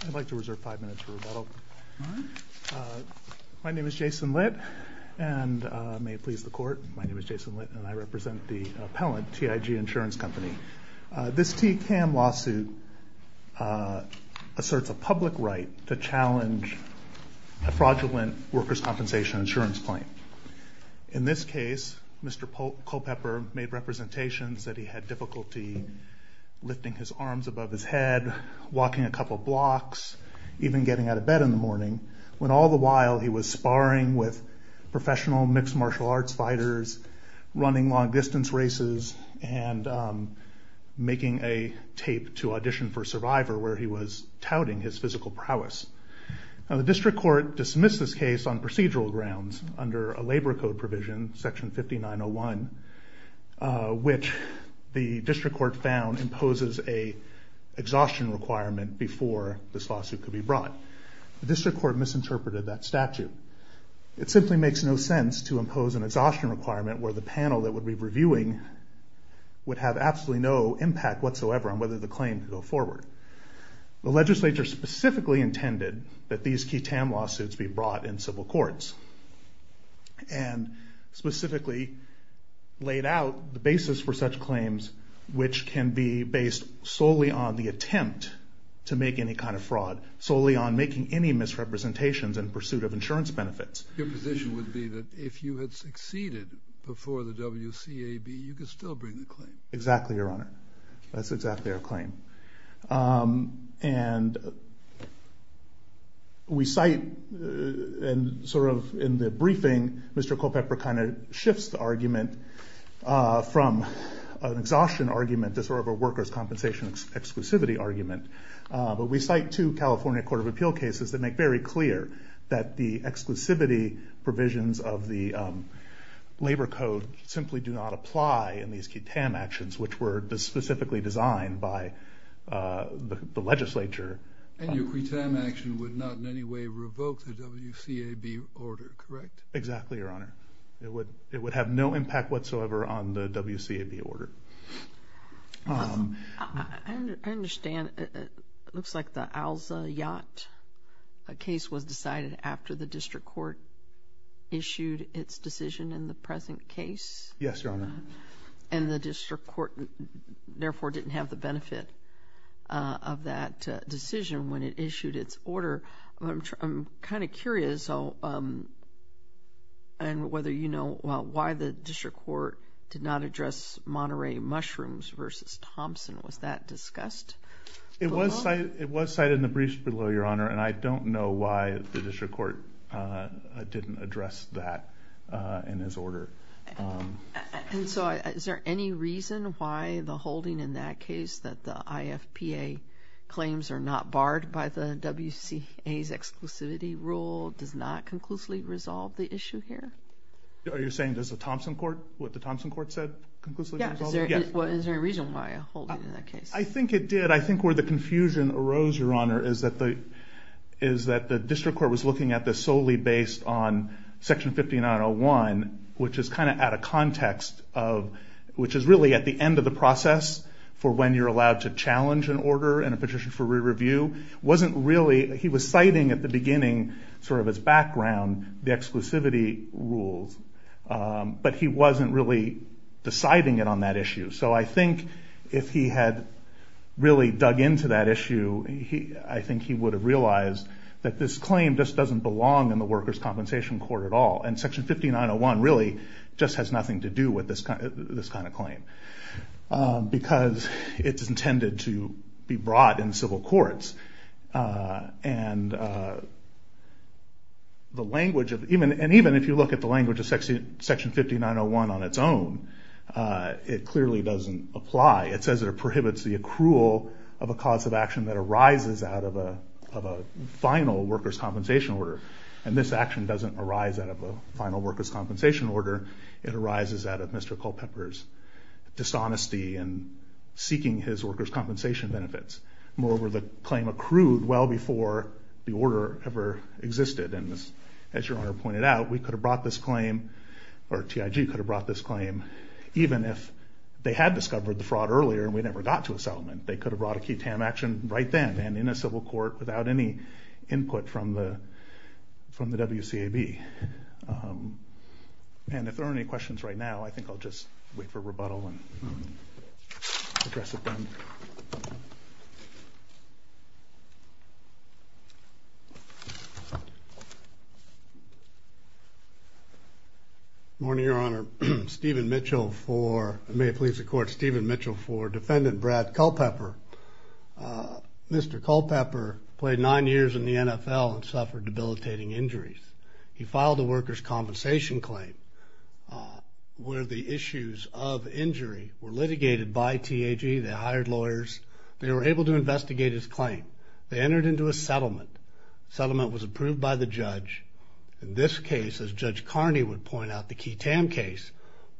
I'd like to reserve five minutes for rebuttal. My name is Jason Litt and may it please the court, my name is Jason Litt and I represent the appellant, TIG Insurance Company. This TCAM lawsuit asserts a public right to challenge a fraudulent workers' compensation insurance claim. In this case, Mr. Culpepper made representations that he had difficulty lifting his arms above his head, walking a couple blocks, even getting out of bed in the morning, when all the while he was sparring with professional mixed martial arts fighters, running long distance races, and making a tape to audition for Survivor where he was touting his physical prowess. The district court dismissed this case on procedural grounds under a labor code provision, section 5901, which the district court found imposes an exhaustion requirement before this lawsuit could be brought. The district court misinterpreted that statute. It simply makes no sense to impose an exhaustion requirement where the panel that would be reviewing would have absolutely no impact whatsoever on whether the claim could go forward. The legislature specifically intended that these TCAM lawsuits be brought in civil courts, and specifically laid out the basis for such claims, which can be based solely on the attempt to make any kind of fraud, solely on making any misrepresentations in pursuit of insurance benefits. Your position would be that if you had succeeded before the WCAB, you could still bring the We cite, sort of in the briefing, Mr. Culpepper kind of shifts the argument from an exhaustion argument to sort of a workers' compensation exclusivity argument. But we cite two California Court of Appeal cases that make very clear that the exclusivity provisions of the labor code simply do not apply in these TCAM actions, which were specifically designed by the legislature And your TCAM action would not in any way revoke the WCAB order, correct? Exactly, Your Honor. It would have no impact whatsoever on the WCAB order. I understand. It looks like the Alza Yacht case was decided after the district court issued its decision in the present case? Yes, Your Honor. And the district court, therefore, didn't have the benefit of that decision when it issued its order. I'm kind of curious, and whether you know why the district court did not address Monterey Mushrooms versus Thompson. Was that discussed? It was cited in the briefs below, Your Honor, and I don't know why the district court didn't address that in his order. And so is there any reason why the holding in that case that the IFPA claims are not barred by the WCA's exclusivity rule does not conclusively resolve the issue here? Are you saying what the Thompson court said conclusively resolves it? Yes. Is there a reason why a holding in that case? I think it did. I think where the confusion arose, Your Honor, is that the district court was looking at this solely based on Section 5901, which is really at the end of the process for when you're allowed to challenge an order in a petition for re-review. He was citing at the beginning, sort of as background, the exclusivity rules, but he wasn't really deciding it on that issue. So I think if he had really dug into that issue, I think he would have realized that this claim just doesn't belong in the workers' compensation court at all. And Section 5901 really just has nothing to do with this kind of claim. Because it's intended to be brought in civil courts. And even if you look at the language of Section 5901 on its own, it clearly doesn't apply. It says it prohibits the accrual of a cause of action that arises out of a final workers' compensation order. And this action doesn't arise out of a final workers' compensation order. It arises out of Mr. Culpepper's dishonesty in seeking his workers' compensation benefits. Moreover, the claim accrued well before the order ever existed. And as Your Honor pointed out, we could have brought this claim, or TIG could have brought this claim, even if they had discovered the fraud earlier and we never got to a settlement. They could have brought a key TAM action right then and in a civil court without any input from the WCAB. And if there are any questions right now, I think I'll just wait for rebuttal and address it then. Thank you. Good morning, Your Honor. Stephen Mitchell for, may it please the Court, Stephen Mitchell for Defendant Brad Culpepper. Mr. Culpepper played nine years in the NFL and suffered debilitating injuries. He filed a workers' compensation claim where the issues of injury were litigated by TAG. They hired lawyers. They were able to investigate his claim. They entered into a settlement. The settlement was approved by the judge. In this case, as Judge Carney would point out, the key TAM case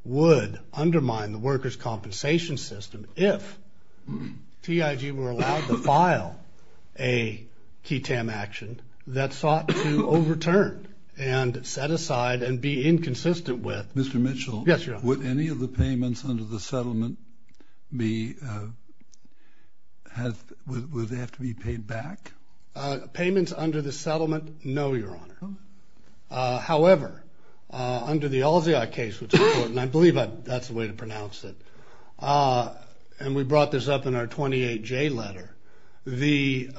would undermine the workers' compensation system if TIG were allowed to file a key TAM action that sought to overturn and set aside and be inconsistent with. Mr. Mitchell. Yes, Your Honor. Would any of the payments under the settlement be, would they have to be paid back? Payments under the settlement, no, Your Honor. However, under the Alziot case, which I believe that's the way to pronounce it, and we brought this up in our 28J letter, the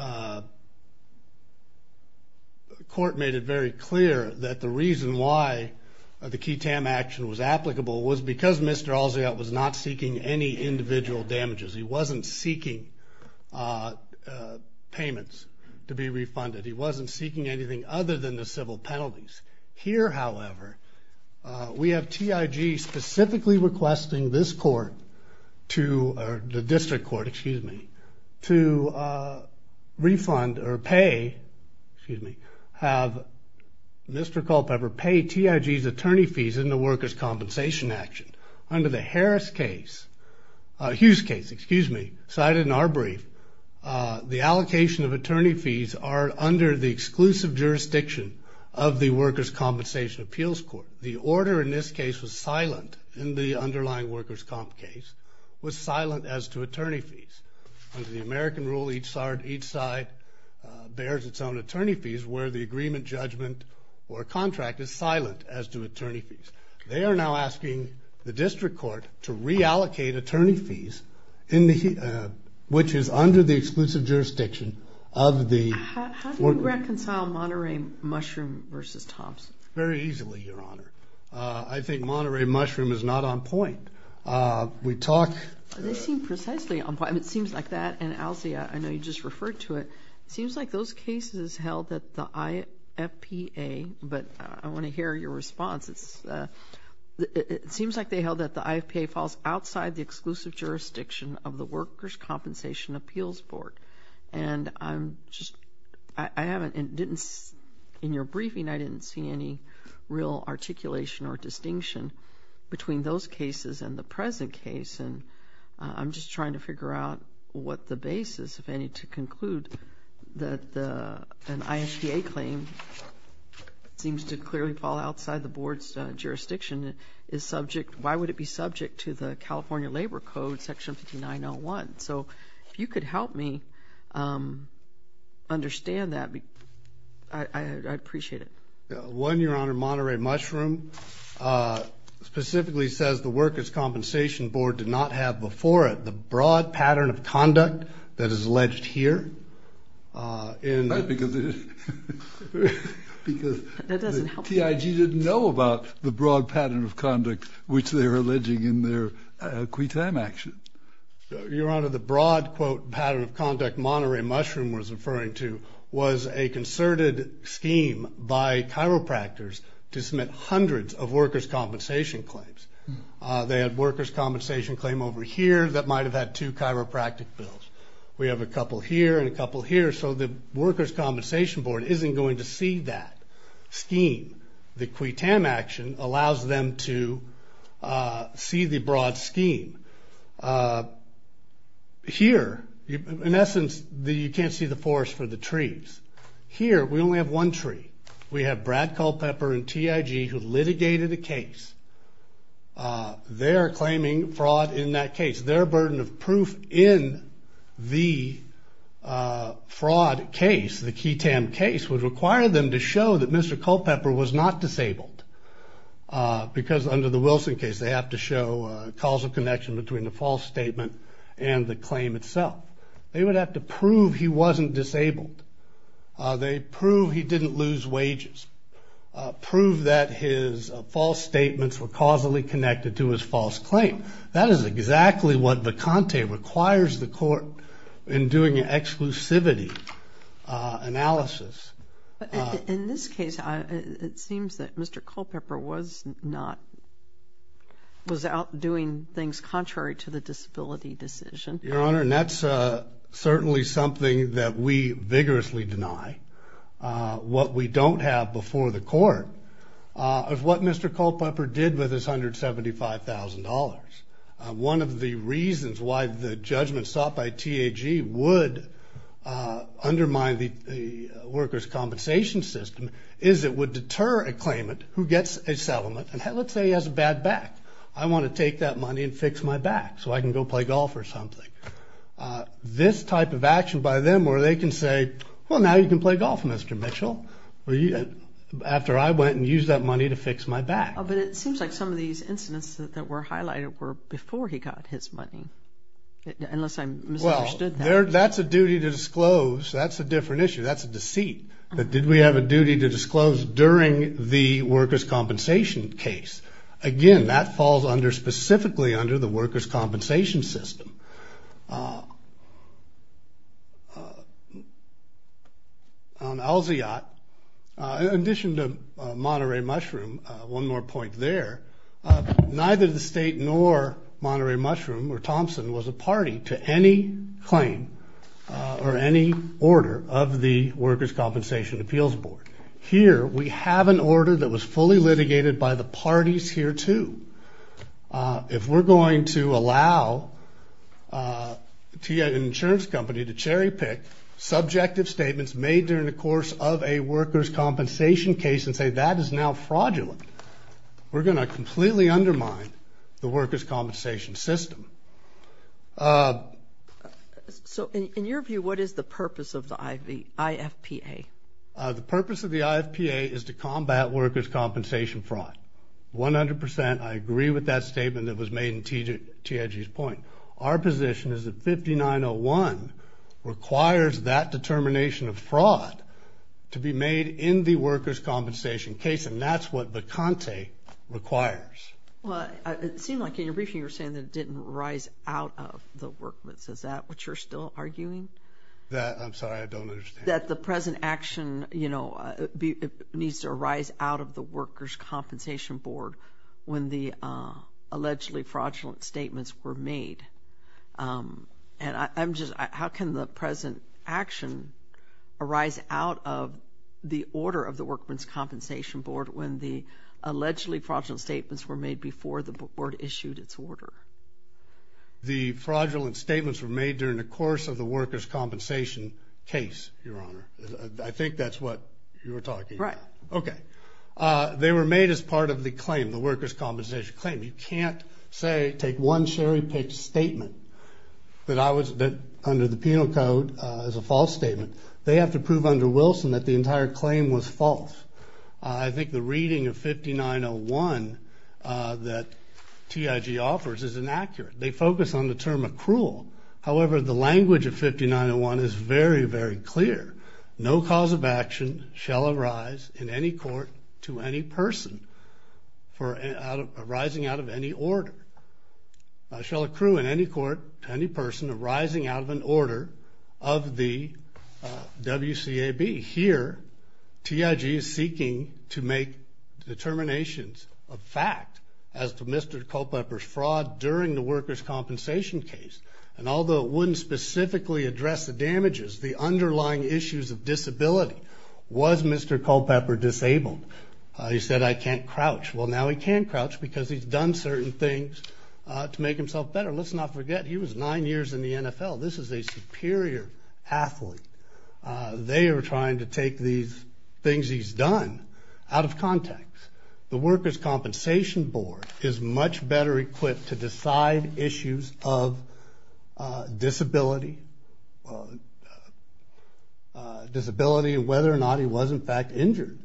court made it very clear that the reason why the key TAM action was applicable was because Mr. Alziot was not seeking any individual damages. He wasn't seeking payments to be refunded. He wasn't seeking anything other than the civil penalties. Here, however, we have TIG specifically requesting this court to, or the district court, excuse me, to refund or pay, excuse me, have Mr. Culpepper pay TIG's attorney fees in the workers' compensation action. Under the Harris case, Hughes case, excuse me, cited in our brief, the allocation of attorney fees are under the exclusive jurisdiction of the workers' compensation appeals court. The order in this case was silent in the underlying workers' comp case, was silent as to attorney fees. Under the American rule, each side bears its own attorney fees, where the agreement, judgment, or contract is silent as to attorney fees. They are now asking the district court to reallocate attorney fees, which is under the exclusive jurisdiction of the workers' compensation appeals court. How do you reconcile Monterey Mushroom versus Thompson? Very easily, Your Honor. I think Monterey Mushroom is not on point. We talk. They seem precisely on point. It seems like that, and Alziot, I know you just referred to it. It seems like those cases held at the IFPA, but I want to hear your response. It seems like they held that the IFPA falls outside the exclusive jurisdiction of the workers' compensation appeals board. And I'm just, I haven't, in your briefing I didn't see any real articulation or distinction between those cases and the present case, and I'm just trying to figure out what the basis, if any, to conclude that an IFPA claim seems to clearly fall outside the board's jurisdiction, is subject, why would it be subject to the California Labor Code, Section 5901? So if you could help me understand that, I'd appreciate it. One, Your Honor, Monterey Mushroom specifically says the workers' compensation board did not have before it the broad pattern of conduct that is alleged here. Because the TIG didn't know about the broad pattern of conduct which they were alleging in their quitam action. Your Honor, the broad, quote, pattern of conduct Monterey Mushroom was referring to was a concerted scheme by chiropractors to submit hundreds of workers' compensation claims. They had workers' compensation claim over here that might have had two chiropractic bills. We have a couple here and a couple here, so the workers' compensation board isn't going to see that scheme. The quitam action allows them to see the broad scheme. Here, in essence, you can't see the forest for the trees. Here, we only have one tree. We have Brad Culpepper and TIG who litigated a case. They're claiming fraud in that case. Their burden of proof in the fraud case, the quitam case, would require them to show that Mr. Culpepper was not disabled. Because under the Wilson case, they have to show a causal connection between the false statement and the claim itself. They would have to prove he wasn't disabled. They prove he didn't lose wages, prove that his false statements were causally connected to his false claim. That is exactly what Vacante requires the court in doing an exclusivity analysis. In this case, it seems that Mr. Culpepper was not, was out doing things contrary to the disability decision. Your Honor, that's certainly something that we vigorously deny. What we don't have before the court is what Mr. Culpepper did with his $175,000. One of the reasons why the judgment sought by TAG would undermine the workers' compensation system is it would deter a claimant who gets a settlement, and let's say he has a bad back. I want to take that money and fix my back so I can go play golf or something. This type of action by them where they can say, well, now you can play golf, Mr. Mitchell, after I went and used that money to fix my back. But it seems like some of these incidents that were highlighted were before he got his money, unless I misunderstood that. Well, that's a duty to disclose. That's a different issue. That's a deceit that did we have a duty to disclose during the workers' compensation case. Again, that falls specifically under the workers' compensation system. On Alziot, in addition to Monterey Mushroom, one more point there, neither the state nor Monterey Mushroom or Thompson was a party to any claim or any order of the Workers' Compensation Appeals Board. Here, we have an order that was fully litigated by the parties here, too. If we're going to allow an insurance company to cherry-pick subjective statements made during the course of a workers' compensation case and say that is now fraudulent, we're going to completely undermine the workers' compensation system. So in your view, what is the purpose of the IFPA? The purpose of the IFPA is to combat workers' compensation fraud, 100%. I agree with that statement that was made in T.E.G.'s point. Our position is that 5901 requires that determination of fraud to be made in the workers' compensation case, and that's what Baconte requires. Well, it seemed like in your briefing you were saying that it didn't rise out of the work. Is that what you're still arguing? I'm sorry. I don't understand. That the present action needs to arise out of the Workers' Compensation Board when the allegedly fraudulent statements were made. How can the present action arise out of the order of the Workers' Compensation Board when the allegedly fraudulent statements were made before the board issued its order? The fraudulent statements were made during the course of the workers' compensation case, Your Honor. I think that's what you were talking about. Right. Okay. They were made as part of the claim, the workers' compensation claim. You can't say, take one cherry-picked statement that under the penal code is a false statement. They have to prove under Wilson that the entire claim was false. I think the reading of 5901 that TIG offers is inaccurate. They focus on the term accrual. However, the language of 5901 is very, very clear. No cause of action shall arise in any court to any person arising out of any order. Shall accrue in any court to any person arising out of an order of the WCAB. To me, here, TIG is seeking to make determinations of fact as to Mr. Culpepper's fraud during the workers' compensation case. And although it wouldn't specifically address the damages, the underlying issues of disability, was Mr. Culpepper disabled? He said, I can't crouch. Well, now he can crouch because he's done certain things to make himself better. Let's not forget, he was nine years in the NFL. This is a superior athlete. They are trying to take these things he's done out of context. The workers' compensation board is much better equipped to decide issues of disability, and whether or not he was, in fact, injured.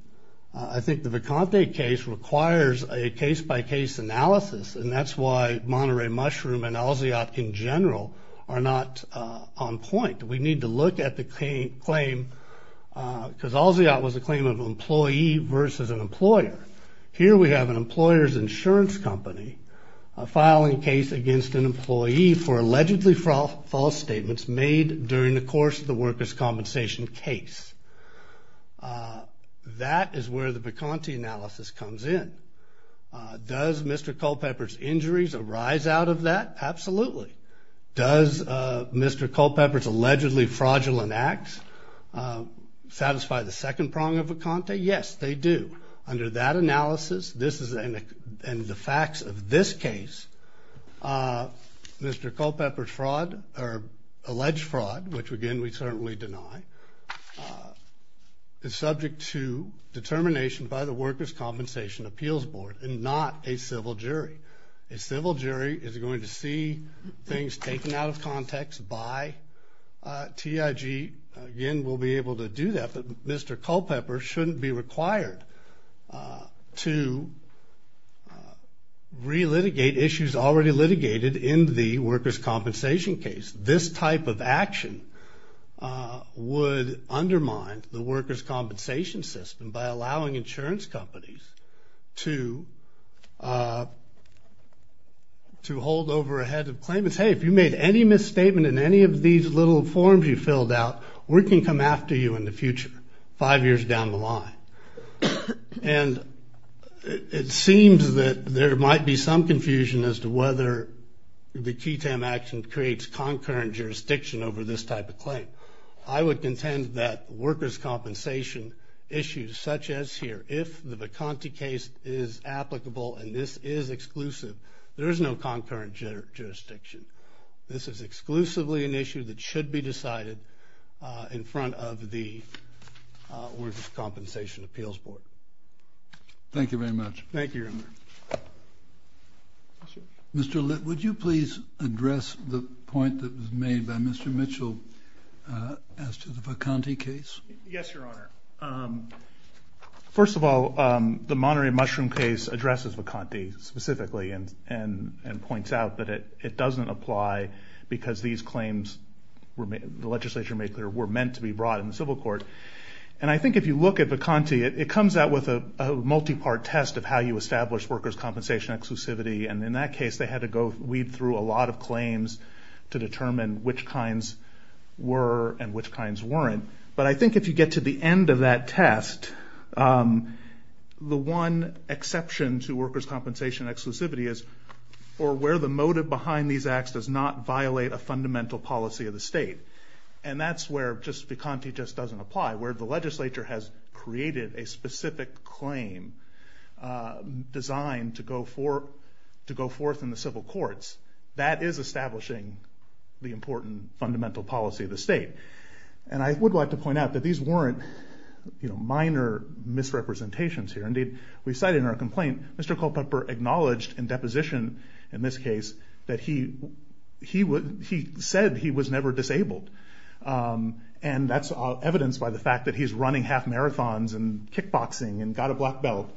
I think the Viconte case requires a case-by-case analysis, and that's why Monterey Mushroom and Alziot, in general, are not on point. We need to look at the claim, because Alziot was a claim of employee versus an employer. Here we have an employer's insurance company filing a case against an employee for allegedly false statements made during the course of the workers' compensation case. That is where the Viconte analysis comes in. Does Mr. Culpepper's injuries arise out of that? Absolutely. Does Mr. Culpepper's allegedly fraudulent acts satisfy the second prong of Viconte? Yes, they do. Under that analysis, and the facts of this case, Mr. Culpepper's fraud, or alleged fraud, which, again, we certainly deny, is subject to determination by the workers' compensation appeals board and not a civil jury. A civil jury is going to see things taken out of context by TIG. Again, we'll be able to do that, but Mr. Culpepper shouldn't be required to relitigate issues already litigated in the workers' compensation case. This type of action would undermine the workers' compensation system by allowing insurance companies to hold over a head of claimants. Hey, if you made any misstatement in any of these little forms you filled out, we can come after you in the future, five years down the line. And it seems that there might be some confusion as to whether the QTAM action creates concurrent jurisdiction over this type of claim. I would contend that workers' compensation issues, such as here, if the Viconte case is applicable and this is exclusive, there is no concurrent jurisdiction. This is exclusively an issue that should be decided in front of the workers' compensation appeals board. Thank you very much. Thank you, Your Honor. Mr. Litt, would you please address the point that was made by Mr. Mitchell as to the Viconte case? Yes, Your Honor. First of all, the Monterey Mushroom case addresses Viconte specifically and points out that it doesn't apply because these claims, the legislature made clear, were meant to be brought in the civil court. And I think if you look at Viconte, it comes out with a multi-part test of how you establish workers' compensation exclusivity, and in that case they had to weed through a lot of claims to determine which kinds were and which kinds weren't. But I think if you get to the end of that test, the one exception to workers' compensation exclusivity is for where the motive behind these acts does not violate a fundamental policy of the state. And that's where Viconte just doesn't apply. Where the legislature has created a specific claim designed to go forth in the civil courts, And I would like to point out that these weren't minor misrepresentations here. Indeed, we cite in our complaint, Mr. Culpepper acknowledged in deposition in this case that he said he was never disabled. And that's evidenced by the fact that he's running half marathons and kickboxing and got a black belt.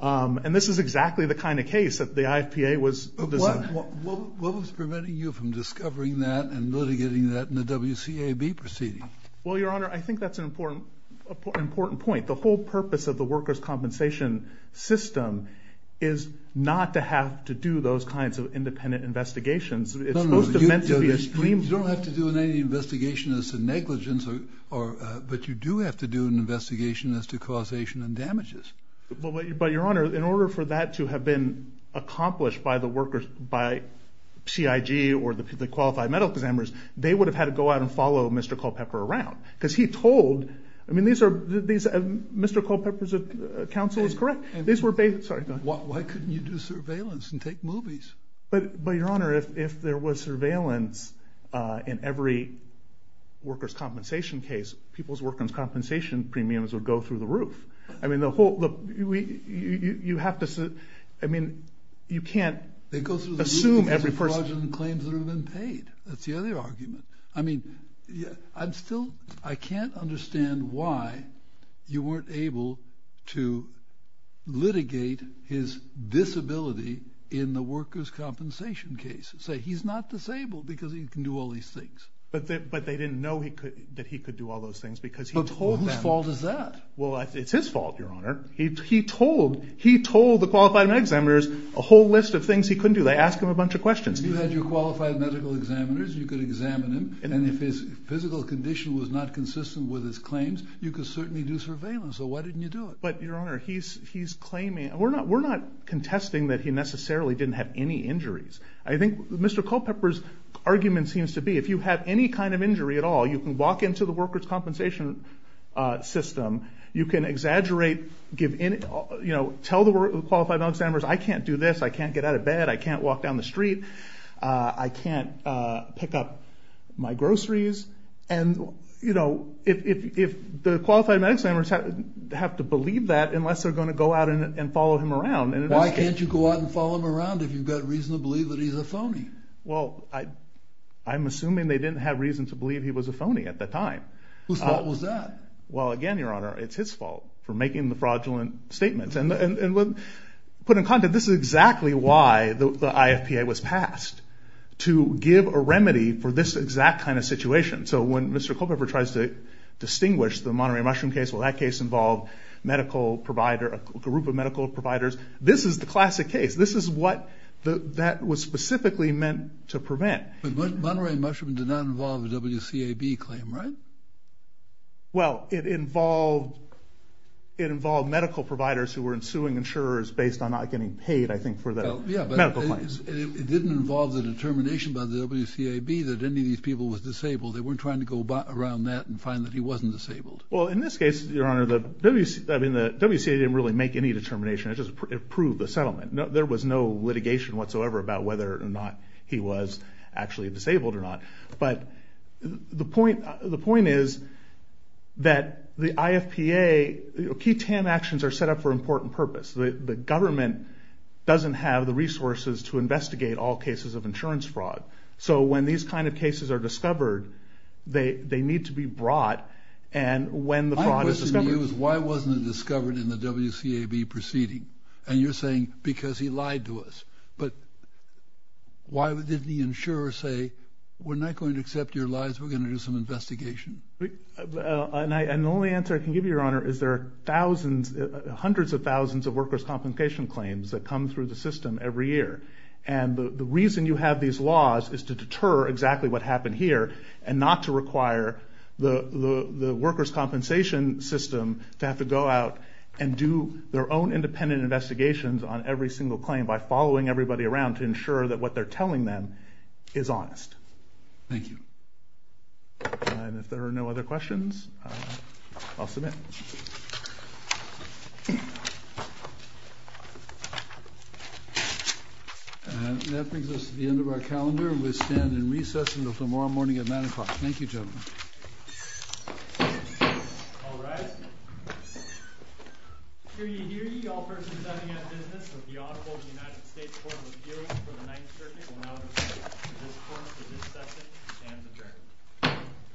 And this is exactly the kind of case that the IFPA was proposing. What was preventing you from discovering that and litigating that in the WCAB proceeding? Well, Your Honor, I think that's an important point. The whole purpose of the workers' compensation system is not to have to do those kinds of independent investigations. You don't have to do an investigation as to negligence, but you do have to do an investigation as to causation and damages. But, Your Honor, in order for that to have been accomplished by the workers, by CIG or the qualified medical examiners, they would have had to go out and follow Mr. Culpepper around. Because he told, I mean, Mr. Culpepper's counsel is correct. Why couldn't you do surveillance and take movies? But, Your Honor, if there was surveillance in every workers' compensation case, people's workers' compensation premiums would go through the roof. I mean, the whole, you have to, I mean, you can't assume every person. They go through the roof because of fraudulent claims that have been paid. That's the other argument. I mean, I'm still, I can't understand why you weren't able to litigate his disability in the workers' compensation case. Say, he's not disabled because he can do all these things. But they didn't know that he could do all those things because he told them. But whose fault is that? Well, it's his fault, Your Honor. He told the qualified medical examiners a whole list of things he couldn't do. They asked him a bunch of questions. If you had your qualified medical examiners, you could examine him. And if his physical condition was not consistent with his claims, you could certainly do surveillance. So why didn't you do it? But, Your Honor, he's claiming, we're not contesting that he necessarily didn't have any injuries. I think Mr. Culpepper's argument seems to be if you have any kind of injury at all, you can walk into the workers' compensation system. You can exaggerate, tell the qualified medical examiners, I can't do this. I can't get out of bed. I can't walk down the street. I can't pick up my groceries. And, you know, if the qualified medical examiners have to believe that unless they're going to go out and follow him around. Why can't you go out and follow him around if you've got reason to believe that he's a phony? Well, I'm assuming they didn't have reason to believe he was a phony at that time. Whose fault was that? Well, again, Your Honor, it's his fault for making the fraudulent statements. And put in context, this is exactly why the IFPA was passed, to give a remedy for this exact kind of situation. So when Mr. Culpepper tries to distinguish the Monterey Mushroom case, well, that case involved a group of medical providers. This is the classic case. This is what that was specifically meant to prevent. But Monterey Mushroom did not involve a WCAB claim, right? Well, it involved medical providers who were suing insurers based on not getting paid, I think, for their medical claims. Yeah, but it didn't involve the determination by the WCAB that any of these people were disabled. They weren't trying to go around that and find that he wasn't disabled. Well, in this case, Your Honor, the WCA didn't really make any determination. It just proved the settlement. There was no litigation whatsoever about whether or not he was actually disabled or not. But the point is that the IFPA, key TAN actions are set up for an important purpose. The government doesn't have the resources to investigate all cases of insurance fraud. So when these kind of cases are discovered, they need to be brought. My question to you is, why wasn't it discovered in the WCAB proceeding? And you're saying, because he lied to us. But why did the insurer say, we're not going to accept your lies. We're going to do some investigation. And the only answer I can give you, Your Honor, is there are thousands, hundreds of thousands of workers' complication claims that come through the system every year. And the reason you have these laws is to deter exactly what happened here and not to require the workers' compensation system to have to go out and do their own independent investigations on every single claim by following everybody around to ensure that what they're telling them is honest. Thank you. And if there are no other questions, I'll submit. And that brings us to the end of our calendar. We stand in recess until tomorrow morning at 9 o'clock. Thank you, gentlemen. All rise. Hear ye, hear ye, all persons having a business with the audible of the United States Court of Appeals for the Ninth Circuit, will now refer to this court for this session and adjourn.